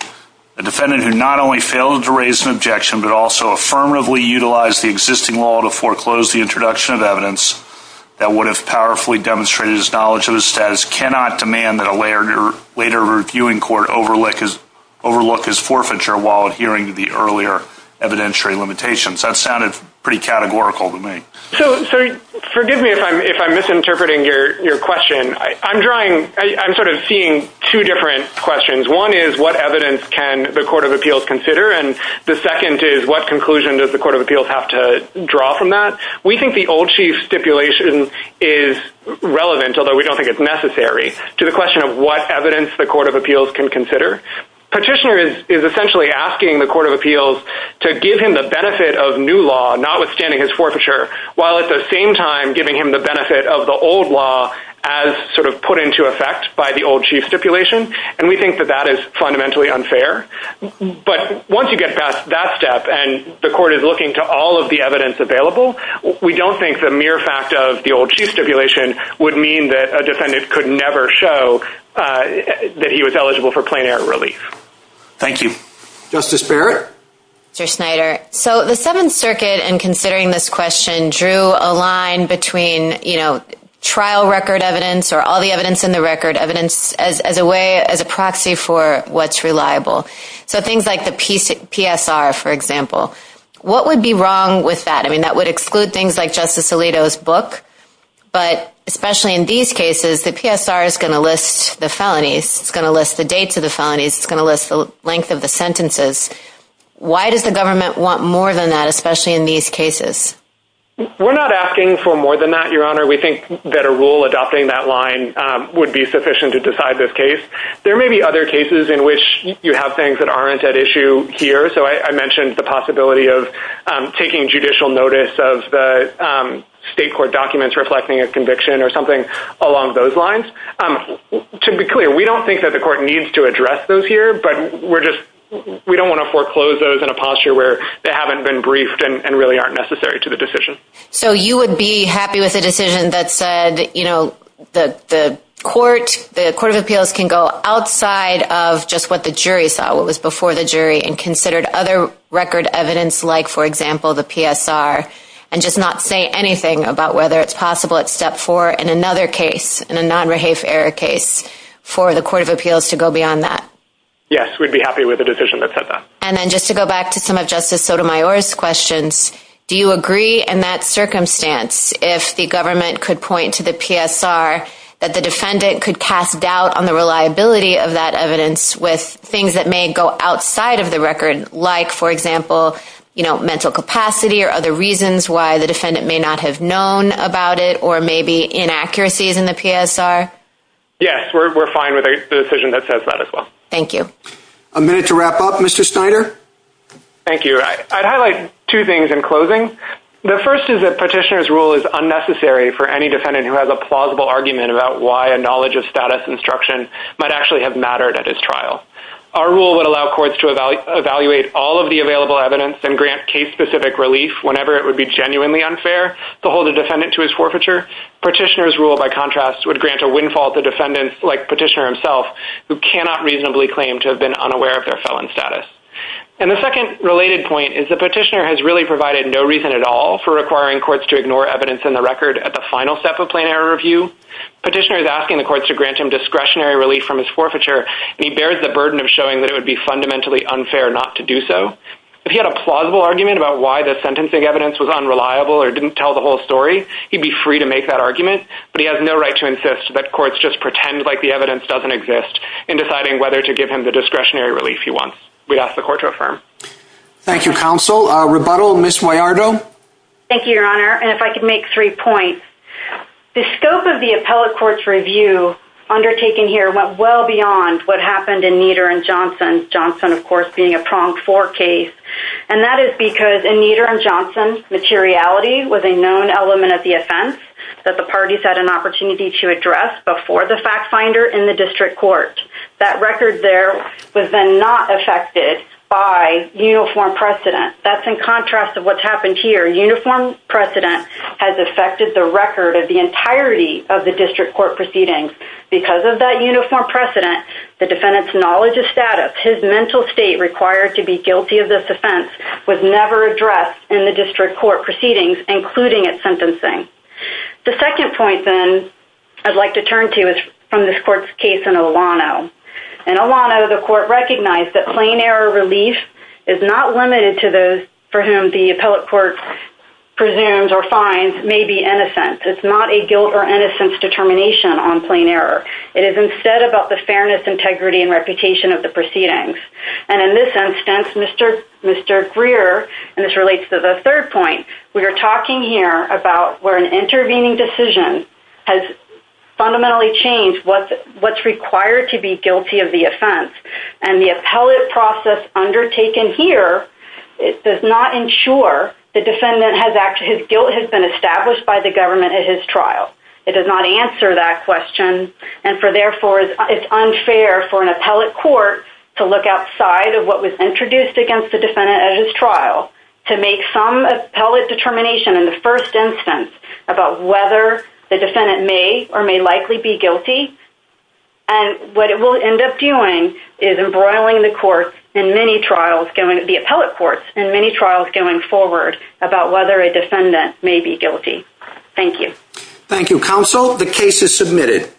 a defendant who not only failed to raise an objection, but also affirmatively utilized the existing law to foreclose the introduction of evidence that would have powerfully demonstrated his knowledge of his status cannot demand that a later reviewing court overlook his forfeiture while adhering to the earlier evidentiary limitations. That sounded pretty categorical to me. So forgive me if I'm misinterpreting your question. I'm sort of seeing two different questions. One is what evidence can the Court of Appeals consider? And the second is what conclusion does the Court of Appeals have to draw from that? We think the old chief stipulation is relevant, although we don't think it's necessary, to the question of what evidence the Court of Appeals can consider. Petitioner is essentially asking the Court of Appeals to give him the benefit of new law, notwithstanding his forfeiture, while at the same time giving him the benefit of the old law as sort of put into effect by the old chief stipulation. And we think that that is fundamentally unfair. But once you get past that step and the court is looking to all of the evidence available, we don't think the mere fact of the old chief stipulation would mean that a defendant could never show that he was eligible for plein air relief. Thank you. Justice Barrett? Mr. Snyder. So the Seventh Circuit, in considering this question, drew a line between, you know, trial record evidence or all the evidence in the record, evidence as a way, as a proxy for what's reliable. So things like the PSR, for example, what would be wrong with that? I mean, that would exclude things like Justice Alito's book, but especially in these cases, the PSR is going to list the felonies. It's going to list the dates of the felonies. It's going to list the length of the sentences. Why does the government want more than that, especially in these cases? We're not asking for more than that, Your Honor. We think that a rule adopting that line would be sufficient to decide this case. There may be other cases in which you have things that aren't at issue here. So I mentioned the possibility of taking judicial notice of the state court documents reflecting a conviction or something along those lines. To be clear, we don't think that the court needs to address those here, but we're just, we don't want to foreclose those in a posture where they haven't been briefed and really aren't necessary to the decision. So you would be happy with a decision that said, you know, that the court, the Court of Appeals can go outside of just what the jury saw, what was before the jury and considered other record evidence like, for example, the PSR and just not say anything about whether it's possible at step four in another case, in a non-rehafe error case for the Court of Appeals to go beyond that. Yes, we'd be happy with a decision that said that. And then just to go back to some of Justice Sotomayor's questions, do you agree in that circumstance if the government could point to the PSR that the defendant could cast doubt on the reliability of that evidence with things that may go outside of the record, like, for example, you know, mental capacity or other reasons why the defendant may not have known about it or maybe inaccuracies in the PSR? Yes, we're fine with the decision that says that as well. Thank you. A minute to wrap up, Mr. Snyder. Thank you. I'd highlight two things in closing. The first is that petitioner's rule is unnecessary for any defendant who has a plausible argument about why a knowledge of status instruction might actually have mattered at his trial. Our rule would allow courts to evaluate all of the available evidence and grant case-specific relief whenever it would be genuinely unfair to hold a defendant to his forfeiture. Petitioner's rule, by contrast, would grant a windfall to defendants like petitioner himself who cannot reasonably claim to have been unaware of their felon status. And the second related point is the petitioner has really provided no reason at all for requiring courts to ignore evidence in the record at the final step of plain error review. Petitioner is asking the courts to grant him discretionary relief from his forfeiture and he bears the burden of showing that it would be fundamentally unfair not to do so. If he had a plausible argument about why the sentencing evidence was unreliable or didn't tell the whole story, he'd be free to make that argument, but he has no right to insist that courts just pretend like the evidence doesn't exist in deciding whether to give him the discretionary relief he wants. We'd ask the court to affirm. Thank you, counsel. Rebuttal, Ms. Moyardo. Thank you, Your Honor. And if I could make three points. The scope of the appellate court's review undertaken here went well beyond what happened in Nieder and Johnson. Johnson, of course, being a pronged-for case. And that is because in Nieder and Johnson, materiality was a known element of the offense that the parties had an opportunity to address before the fact finder in the district court. That record there was then not affected by uniform precedent. That's in contrast of what's happened here. Uniform precedent has affected the record of the entirety of the district court proceedings. Because of that uniform precedent, the defendant's knowledge of status, his mental state required to be guilty of this offense was never addressed in the district court proceedings, including its sentencing. The second point, then, I'd like to turn to is from this court's case in Olano. In Olano, the court recognized that plain error relief is not limited to those for whom the appellate court presumes or finds may be innocent. It's not a guilt or innocence determination on plain error. It is instead about the fairness, integrity, and reputation of the proceedings. And in this instance, Mr. Greer, and this relates to the third point, we are talking here about where an intervening decision has fundamentally changed what's required to be guilty of the offense. And the appellate process undertaken here does not ensure the defendant has actually, his guilt has been established by the government at his trial. It does not answer that question. And for therefore, it's unfair for an appellate court to look outside of what was introduced against the defendant at his trial to make some appellate determination in the first instance about whether the defendant may or may likely be guilty. And what it will end up doing is embroiling the court in many trials, the appellate courts in many trials going forward about whether a defendant may be guilty. Thank you. Thank you, counsel. The case is submitted.